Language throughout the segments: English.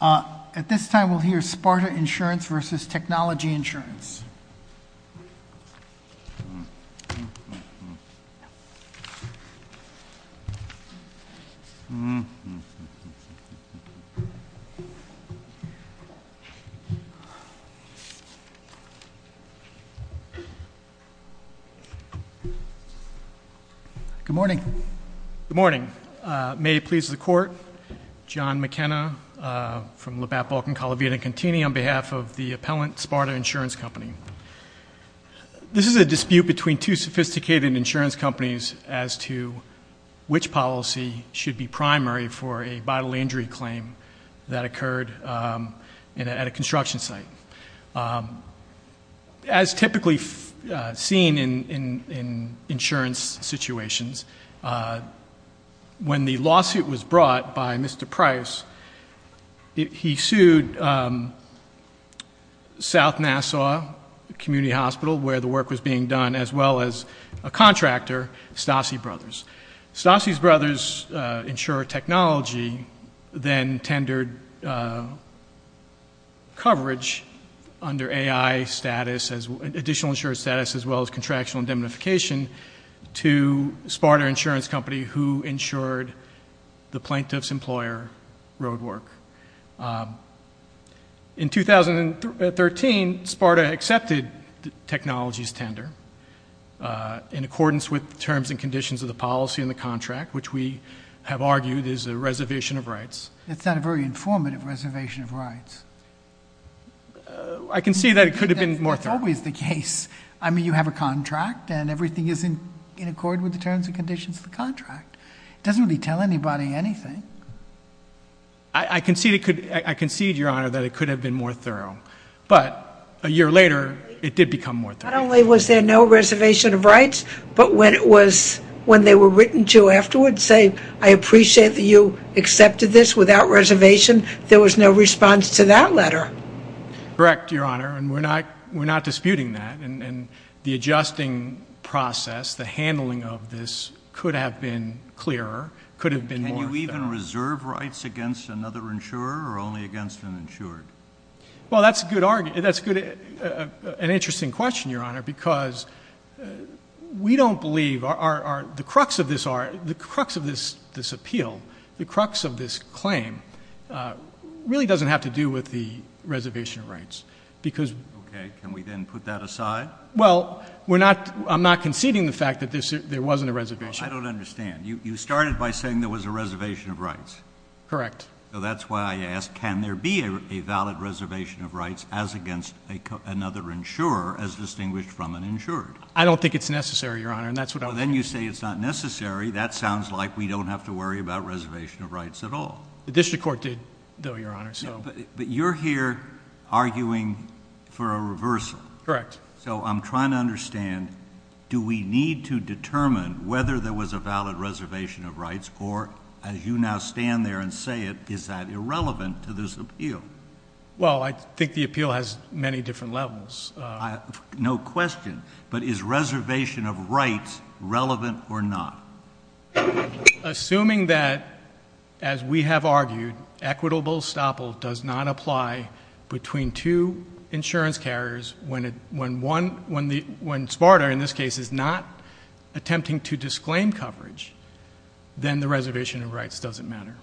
chnology Insurance. Good morning. Good morning. May it please the court, John McKenna, from Labatt, Balkin, Colavita and Contini on behalf of the appellant SPARTA Insurance Company. This is a dispute between two sophisticated insurance companies as to which policy should be primary for a vital injury claim that occurred at a construction site. As typically seen in insurance situations, when the lawsuit was brought by Mr. Price, he sued South Nassau Community Hospital, where the work was being done, as well as a contractor, Stassi Brothers. Stassi Brothers Insurance Technology then tendered coverage under AI status, additional insurance status, as well as contractual indemnification to SPARTA Insurance Company, who insured the plaintiff's employer road work. In 2013, SPARTA accepted technology's tender in accordance with the terms and conditions of the policy in the contract, which we have argued is a reservation of rights. I can see that it could have been more thorough. That's always the case. I mean, you have a contract, and everything is in accord with the terms and conditions of the contract. It doesn't really tell anybody anything. I concede, Your Honor, that it could have been more thorough. But a year later, it did become more thorough. Not only was there no reservation of rights, but when they were written to afterwards saying, I appreciate that you accepted this without reservation, there was no response to that letter. Correct, Your Honor, and we're not disputing that. And the adjusting process, the handling of this could have been clearer, could have been more thorough. Can you even reserve rights against another insurer or only against an insured? Well, that's a good argument. That's an interesting question, Your Honor, because we don't believe the crux of this appeal, the crux of this claim, really doesn't have to do with the reservation of rights. Okay. Can we then put that aside? Well, I'm not conceding the fact that there wasn't a reservation. I don't understand. You started by saying there was a reservation of rights. Correct. So that's why I asked, can there be a valid reservation of rights as against another insurer as distinguished from an insured? I don't think it's necessary, Your Honor, and that's what I was saying. Well, then you say it's not necessary. That sounds like we don't have to worry about reservation of rights at all. The district court did, though, Your Honor. But you're here arguing for a reversal. Correct. So I'm trying to understand, do we need to determine whether there was a valid reservation of rights or, as you now stand there and say it, is that irrelevant to this appeal? Well, I think the appeal has many different levels. No question. But is reservation of rights relevant or not? Assuming that, as we have argued, equitable estoppel does not apply between two insurance carriers, when Sparta, in this case, is not attempting to disclaim coverage, then the reservation of rights doesn't matter.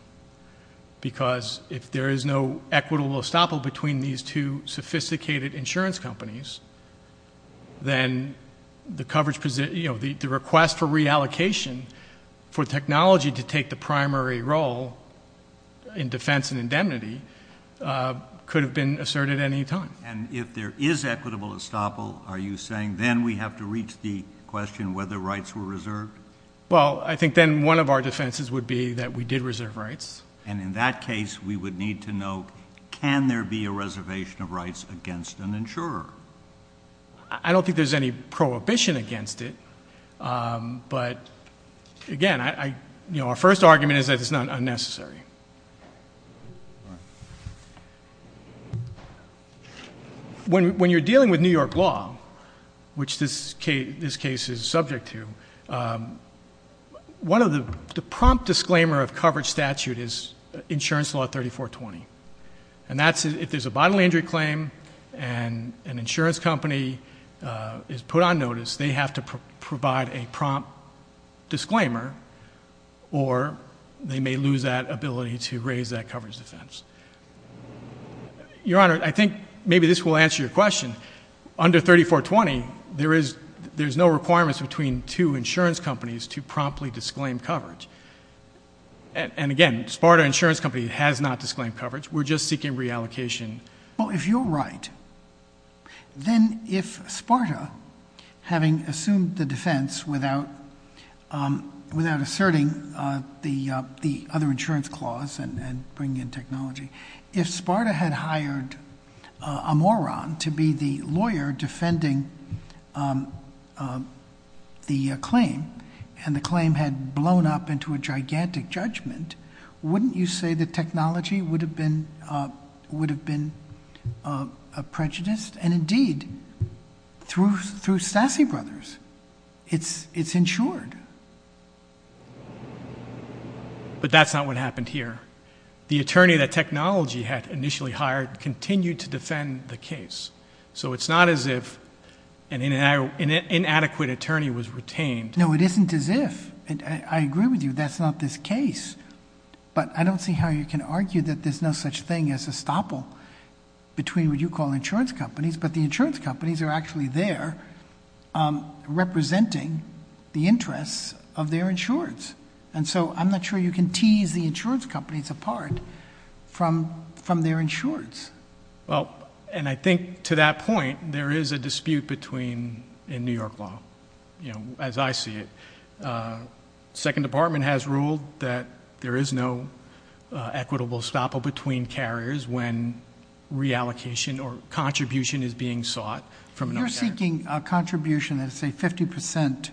Because if there is no equitable estoppel between these two sophisticated insurance companies, then the request for reallocation for technology to take the primary role in defense and indemnity could have been asserted at any time. And if there is equitable estoppel, are you saying then we have to reach the question whether rights were reserved? Well, I think then one of our defenses would be that we did reserve rights. And in that case, we would need to know, can there be a reservation of rights against an insurer? I don't think there's any prohibition against it. But, again, our first argument is that it's not unnecessary. When you're dealing with New York law, which this case is subject to, the prompt disclaimer of coverage statute is insurance law 3420. And that's if there's a bodily injury claim and an insurance company is put on notice, they have to provide a prompt disclaimer or they may lose that ability to raise that coverage defense. Your Honor, I think maybe this will answer your question. Under 3420, there's no requirements between two insurance companies to promptly disclaim coverage. And, again, Sparta Insurance Company has not disclaimed coverage. We're just seeking reallocation. Well, if you're right, then if Sparta, having assumed the defense without asserting the other insurance clause and bringing in technology, if Sparta had hired a moron to be the lawyer defending the claim and the claim had blown up into a gigantic judgment, wouldn't you say the technology would have been prejudiced? And, indeed, through Stassi Brothers, it's insured. But that's not what happened here. The attorney that technology had initially hired continued to defend the case. So it's not as if an inadequate attorney was retained. No, it isn't as if. I agree with you. That's not this case. But I don't see how you can argue that there's no such thing as a stopple between what you call insurance companies. But the insurance companies are actually there representing the interests of their insurance. And so I'm not sure you can tease the insurance companies apart from their insurance. Well, and I think to that point, there is a dispute between, in New York law, as I see it. Second Department has ruled that there is no equitable stopple between carriers when reallocation or contribution is being sought from another carrier. If you're seeking a contribution, let's say 50%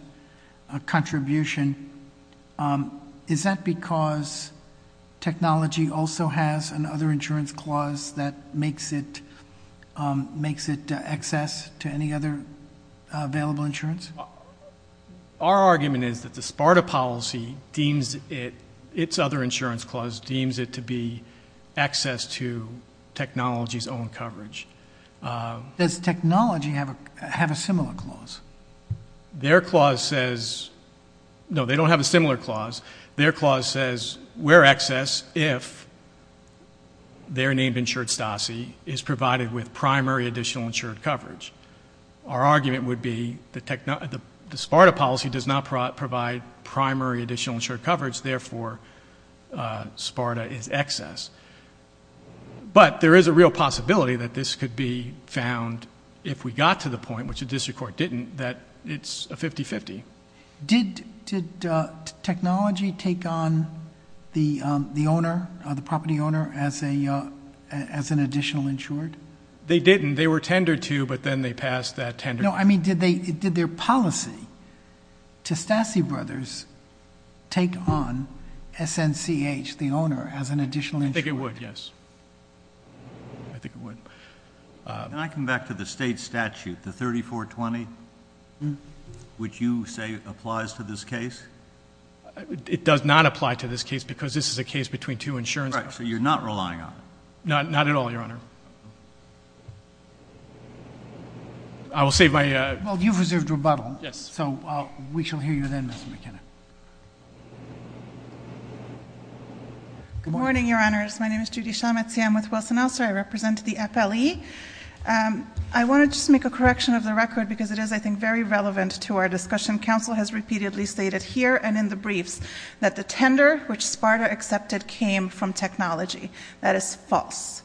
contribution, is that because technology also has another insurance clause that makes it access to any other available insurance? Our argument is that the SPARTA policy deems it, its other insurance clause deems it to be access to technology's own coverage. Does technology have a similar clause? Their clause says, no, they don't have a similar clause. Their clause says we're access if they're named insured STASI is provided with primary additional insured coverage. Our argument would be the SPARTA policy does not provide primary additional insured coverage, therefore SPARTA is access. But there is a real possibility that this could be found if we got to the point, which the district court didn't, that it's a 50-50. Did technology take on the owner, the property owner, as an additional insured? They didn't. They were tendered to, but then they passed that tender. No, I mean, did their policy to STASI brothers take on SNCH, the owner, as an additional insured? I think it would, yes. I think it would. Can I come back to the state statute, the 3420, which you say applies to this case? It does not apply to this case because this is a case between two insurance companies. Right, so you're not relying on it. Not at all, Your Honor. I will save my... Well, you've reserved rebuttal. Yes. So we shall hear you then, Mr. McKenna. Good morning, Your Honors. My name is Judy Schametz. I am with Wilson Elser. I represent the FLE. I want to just make a correction of the record because it is, I think, very relevant to our discussion. Counsel has repeatedly stated here and in the briefs that the tender which SPARTA accepted came from technology. That is false.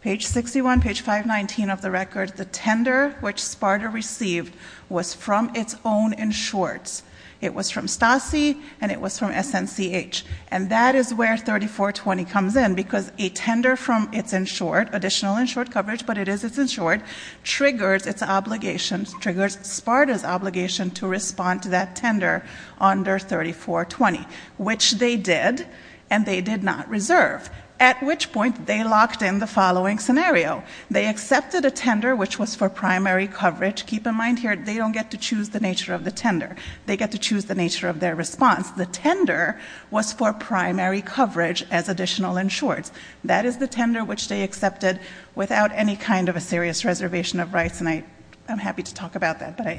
Page 61, page 519 of the record, the tender which SPARTA received was from its own insureds. It was from STASI and it was from SNCH. And that is where 3420 comes in because a tender from its insured, additional insured coverage, but it is its insured, triggers its obligation, triggers SPARTA's obligation to respond to that tender under 3420, which they did and they did not reserve, at which point they locked in the following scenario. They accepted a tender which was for primary coverage. Keep in mind here they don't get to choose the nature of the tender. They get to choose the nature of their response. The tender was for primary coverage as additional insureds. That is the tender which they accepted without any kind of a serious reservation of rights. And I'm happy to talk about that, but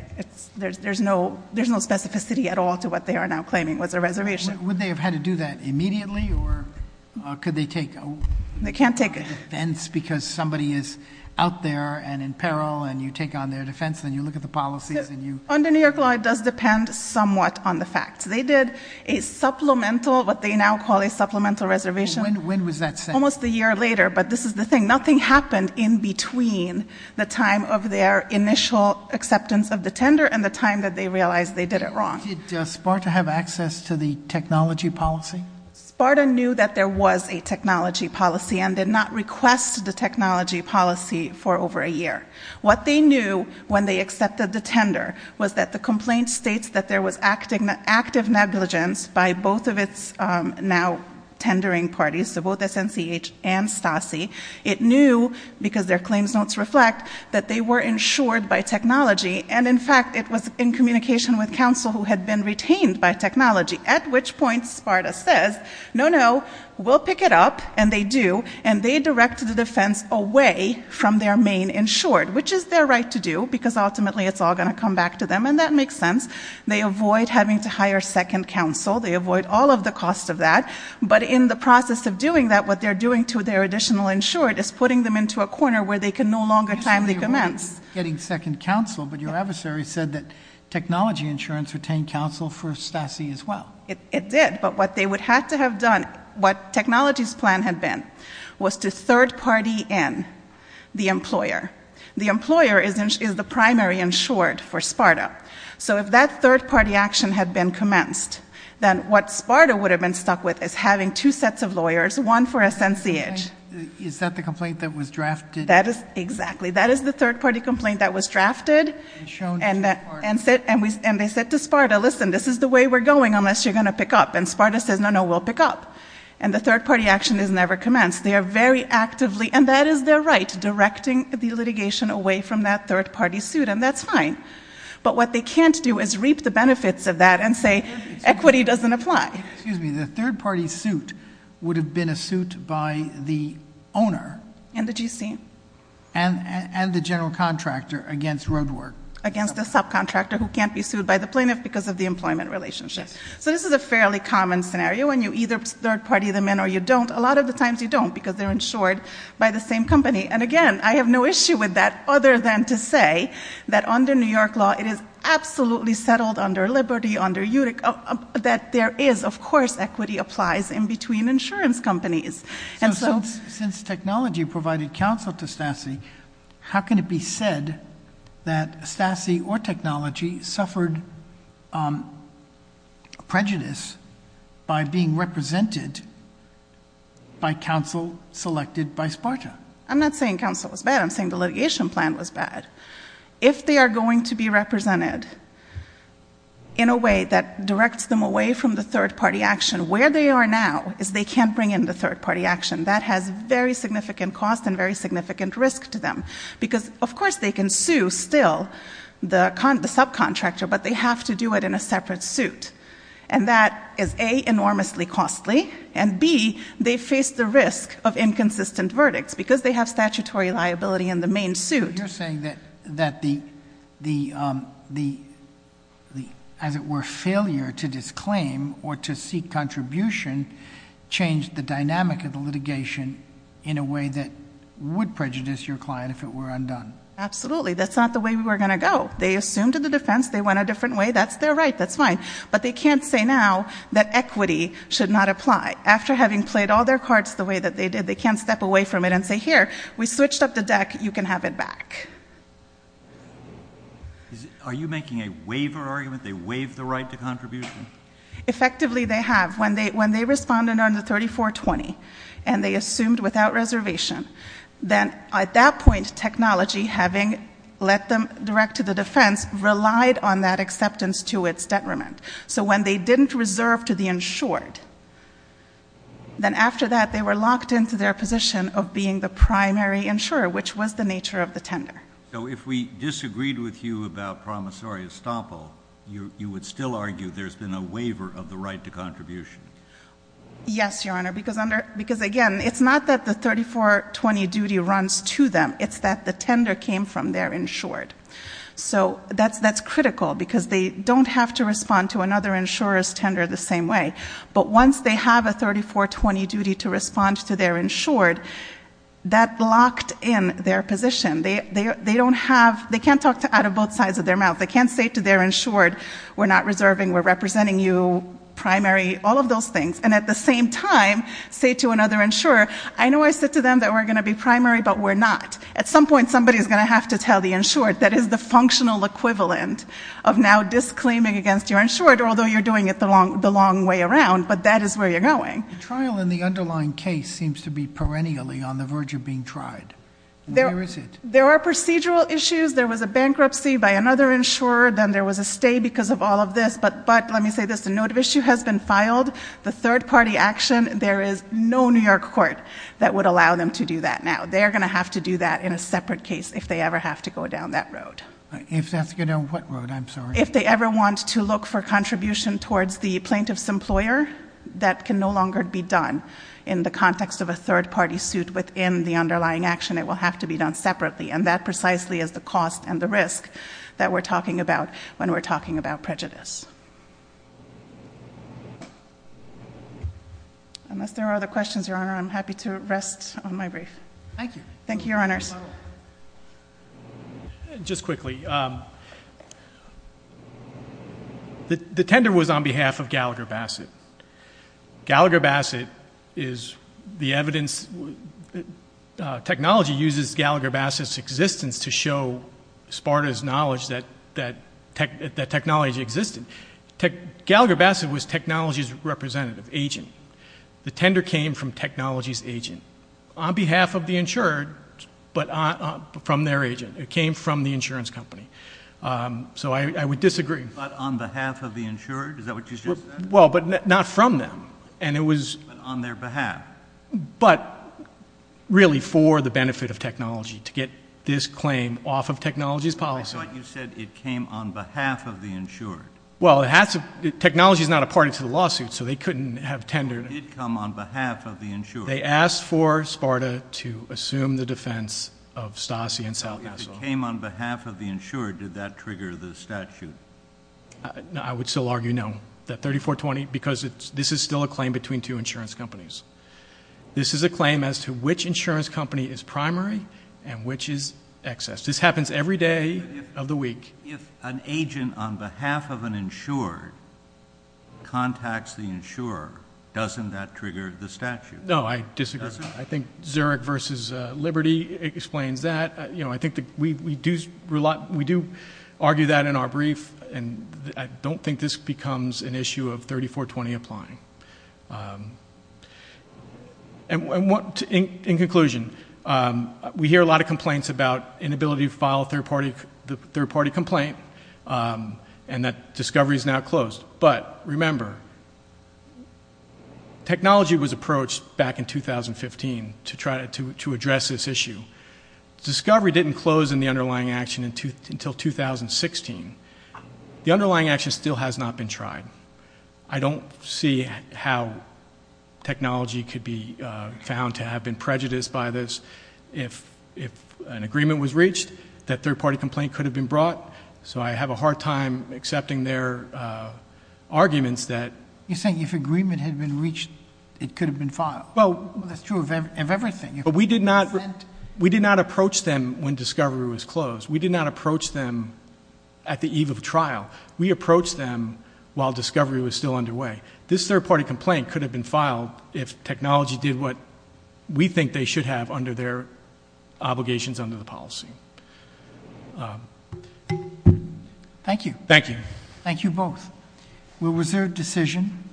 there's no specificity at all to what they are now claiming was a reservation. Would they have had to do that immediately or could they take- They can't take it. Because somebody is out there and in peril and you take on their defense and you look at the policies and you- Under New York law it does depend somewhat on the facts. They did a supplemental, what they now call a supplemental reservation- When was that sent? Almost a year later, but this is the thing. Nothing happened in between the time of their initial acceptance of the tender and the time that they realized they did it wrong. Did SPARTA have access to the technology policy? SPARTA knew that there was a technology policy and did not request the technology policy for over a year. What they knew when they accepted the tender was that the complaint states that there was active negligence by both of its now tendering parties, so both SNCH and STASI. It knew, because their claims notes reflect, that they were insured by technology, and in fact it was in communication with counsel who had been retained by technology, at which point SPARTA says, no, no, we'll pick it up, and they do, and they direct the defense away from their main insured, which is their right to do, because ultimately it's all going to come back to them, and that makes sense. They avoid having to hire second counsel. They avoid all of the cost of that, but in the process of doing that, what they're doing to their additional insured is putting them into a corner where they can no longer timely commence. Getting second counsel, but your adversary said that technology insurance retained counsel for STASI as well. It did, but what they would have to have done, what technology's plan had been, was to third party in the employer. The employer is the primary insured for SPARTA, so if that third party action had been commenced, then what SPARTA would have been stuck with is having two sets of lawyers, one for SNCH. Is that the complaint that was drafted? Exactly. That is the third party complaint that was drafted, and they said to SPARTA, listen, this is the way we're going unless you're going to pick up, and SPARTA says, no, no, we'll pick up, and the third party action has never commenced. They are very actively, and that is their right, directing the litigation away from that third party suit, and that's fine, but what they can't do is reap the benefits of that and say equity doesn't apply. Excuse me. The third party suit would have been a suit by the owner. And the GC. And the general contractor against Roadwork. Against the subcontractor who can't be sued by the plaintiff because of the employment relationship. So this is a fairly common scenario when you either third party them in or you don't. A lot of the times you don't because they're insured by the same company, and, again, I have no issue with that other than to say that under New York law it is absolutely settled under Liberty, that there is, of course, equity applies in between insurance companies. So since technology provided counsel to STASI, how can it be said that STASI or technology suffered prejudice by being represented by counsel selected by SPARTA? I'm not saying counsel was bad. I'm saying the litigation plan was bad. If they are going to be represented in a way that directs them away from the third party action, where they are now is they can't bring in the third party action. That has very significant cost and very significant risk to them. Because, of course, they can sue still the subcontractor, but they have to do it in a separate suit. And that is, A, enormously costly, and, B, they face the risk of inconsistent verdicts because they have statutory liability in the main suit. So you're saying that the, as it were, failure to disclaim or to seek contribution changed the dynamic of the litigation in a way that would prejudice your client if it were undone? Absolutely. That's not the way we were going to go. They assumed a defense. They went a different way. That's their right. That's fine. But they can't say now that equity should not apply. After having played all their cards the way that they did, they can't step away from it and say, here, we switched up the deck. You can have it back. Are you making a waiver argument? They waived the right to contribution? Effectively, they have. When they responded under 3420 and they assumed without reservation, then at that point technology, having let them direct to the defense, relied on that acceptance to its detriment. So when they didn't reserve to the insured, then after that, they were locked into their position of being the primary insurer, which was the nature of the tender. So if we disagreed with you about promissory estoppel, you would still argue there's been a waiver of the right to contribution? Yes, Your Honor, because, again, it's not that the 3420 duty runs to them. It's that the tender came from their insured. So that's critical, because they don't have to respond to another insurer's tender the same way. But once they have a 3420 duty to respond to their insured, that locked in their position. They don't have they can't talk out of both sides of their mouth. They can't say to their insured, we're not reserving, we're representing you, primary, all of those things, and at the same time say to another insurer, I know I said to them that we're going to be primary, but we're not. At some point, somebody's going to have to tell the insured that is the functional equivalent of now disclaiming against your insured, although you're doing it the long way around, but that is where you're going. The trial in the underlying case seems to be perennially on the verge of being tried. Where is it? There are procedural issues. There was a bankruptcy by another insurer. Then there was a stay because of all of this. But let me say this. The note of issue has been filed. The third-party action, there is no New York court that would allow them to do that now. They're going to have to do that in a separate case if they ever have to go down that road. If they have to go down what road? I'm sorry. If they ever want to look for contribution towards the plaintiff's employer, that can no longer be done. In the context of a third-party suit within the underlying action, it will have to be done separately, and that precisely is the cost and the risk that we're talking about when we're talking about prejudice. Unless there are other questions, Your Honor, I'm happy to rest on my brief. Thank you. Thank you, Your Honors. Just quickly, the tender was on behalf of Gallagher Bassett. Gallagher Bassett is the evidence. Technology uses Gallagher Bassett's existence to show Sparta's knowledge that technology existed. Gallagher Bassett was technology's representative, agent. The tender came from technology's agent. On behalf of the insured, but from their agent. It came from the insurance company. So I would disagree. But on behalf of the insured? Is that what you just said? Well, but not from them. But on their behalf. But really for the benefit of technology, to get this claim off of technology's policy. I thought you said it came on behalf of the insured. Well, technology's not a party to the lawsuit, so they couldn't have tendered it. It did come on behalf of the insured. They asked for Sparta to assume the defense of Stasi and South Castle. If it came on behalf of the insured, did that trigger the statute? I would still argue no, that 3420, because this is still a claim between two insurance companies. This is a claim as to which insurance company is primary and which is excess. This happens every day of the week. If an agent on behalf of an insured contacts the insurer, doesn't that trigger the statute? No, I disagree. I think Zurich versus Liberty explains that. I think we do argue that in our brief, and I don't think this becomes an issue of 3420 applying. In conclusion, we hear a lot of complaints about inability to file a third-party complaint and that discovery is now closed. But remember, technology was approached back in 2015 to address this issue. Discovery didn't close in the underlying action until 2016. The underlying action still has not been tried. I don't see how technology could be found to have been prejudiced by this. If an agreement was reached, that third-party complaint could have been brought. So I have a hard time accepting their arguments that— You're saying if agreement had been reached, it could have been filed. Well, that's true of everything. But we did not approach them when discovery was closed. We did not approach them at the eve of trial. We approached them while discovery was still underway. This third-party complaint could have been filed if technology did what we think they should have under their obligations under the policy. Thank you. Thank you. Thank you both. Was there a decision?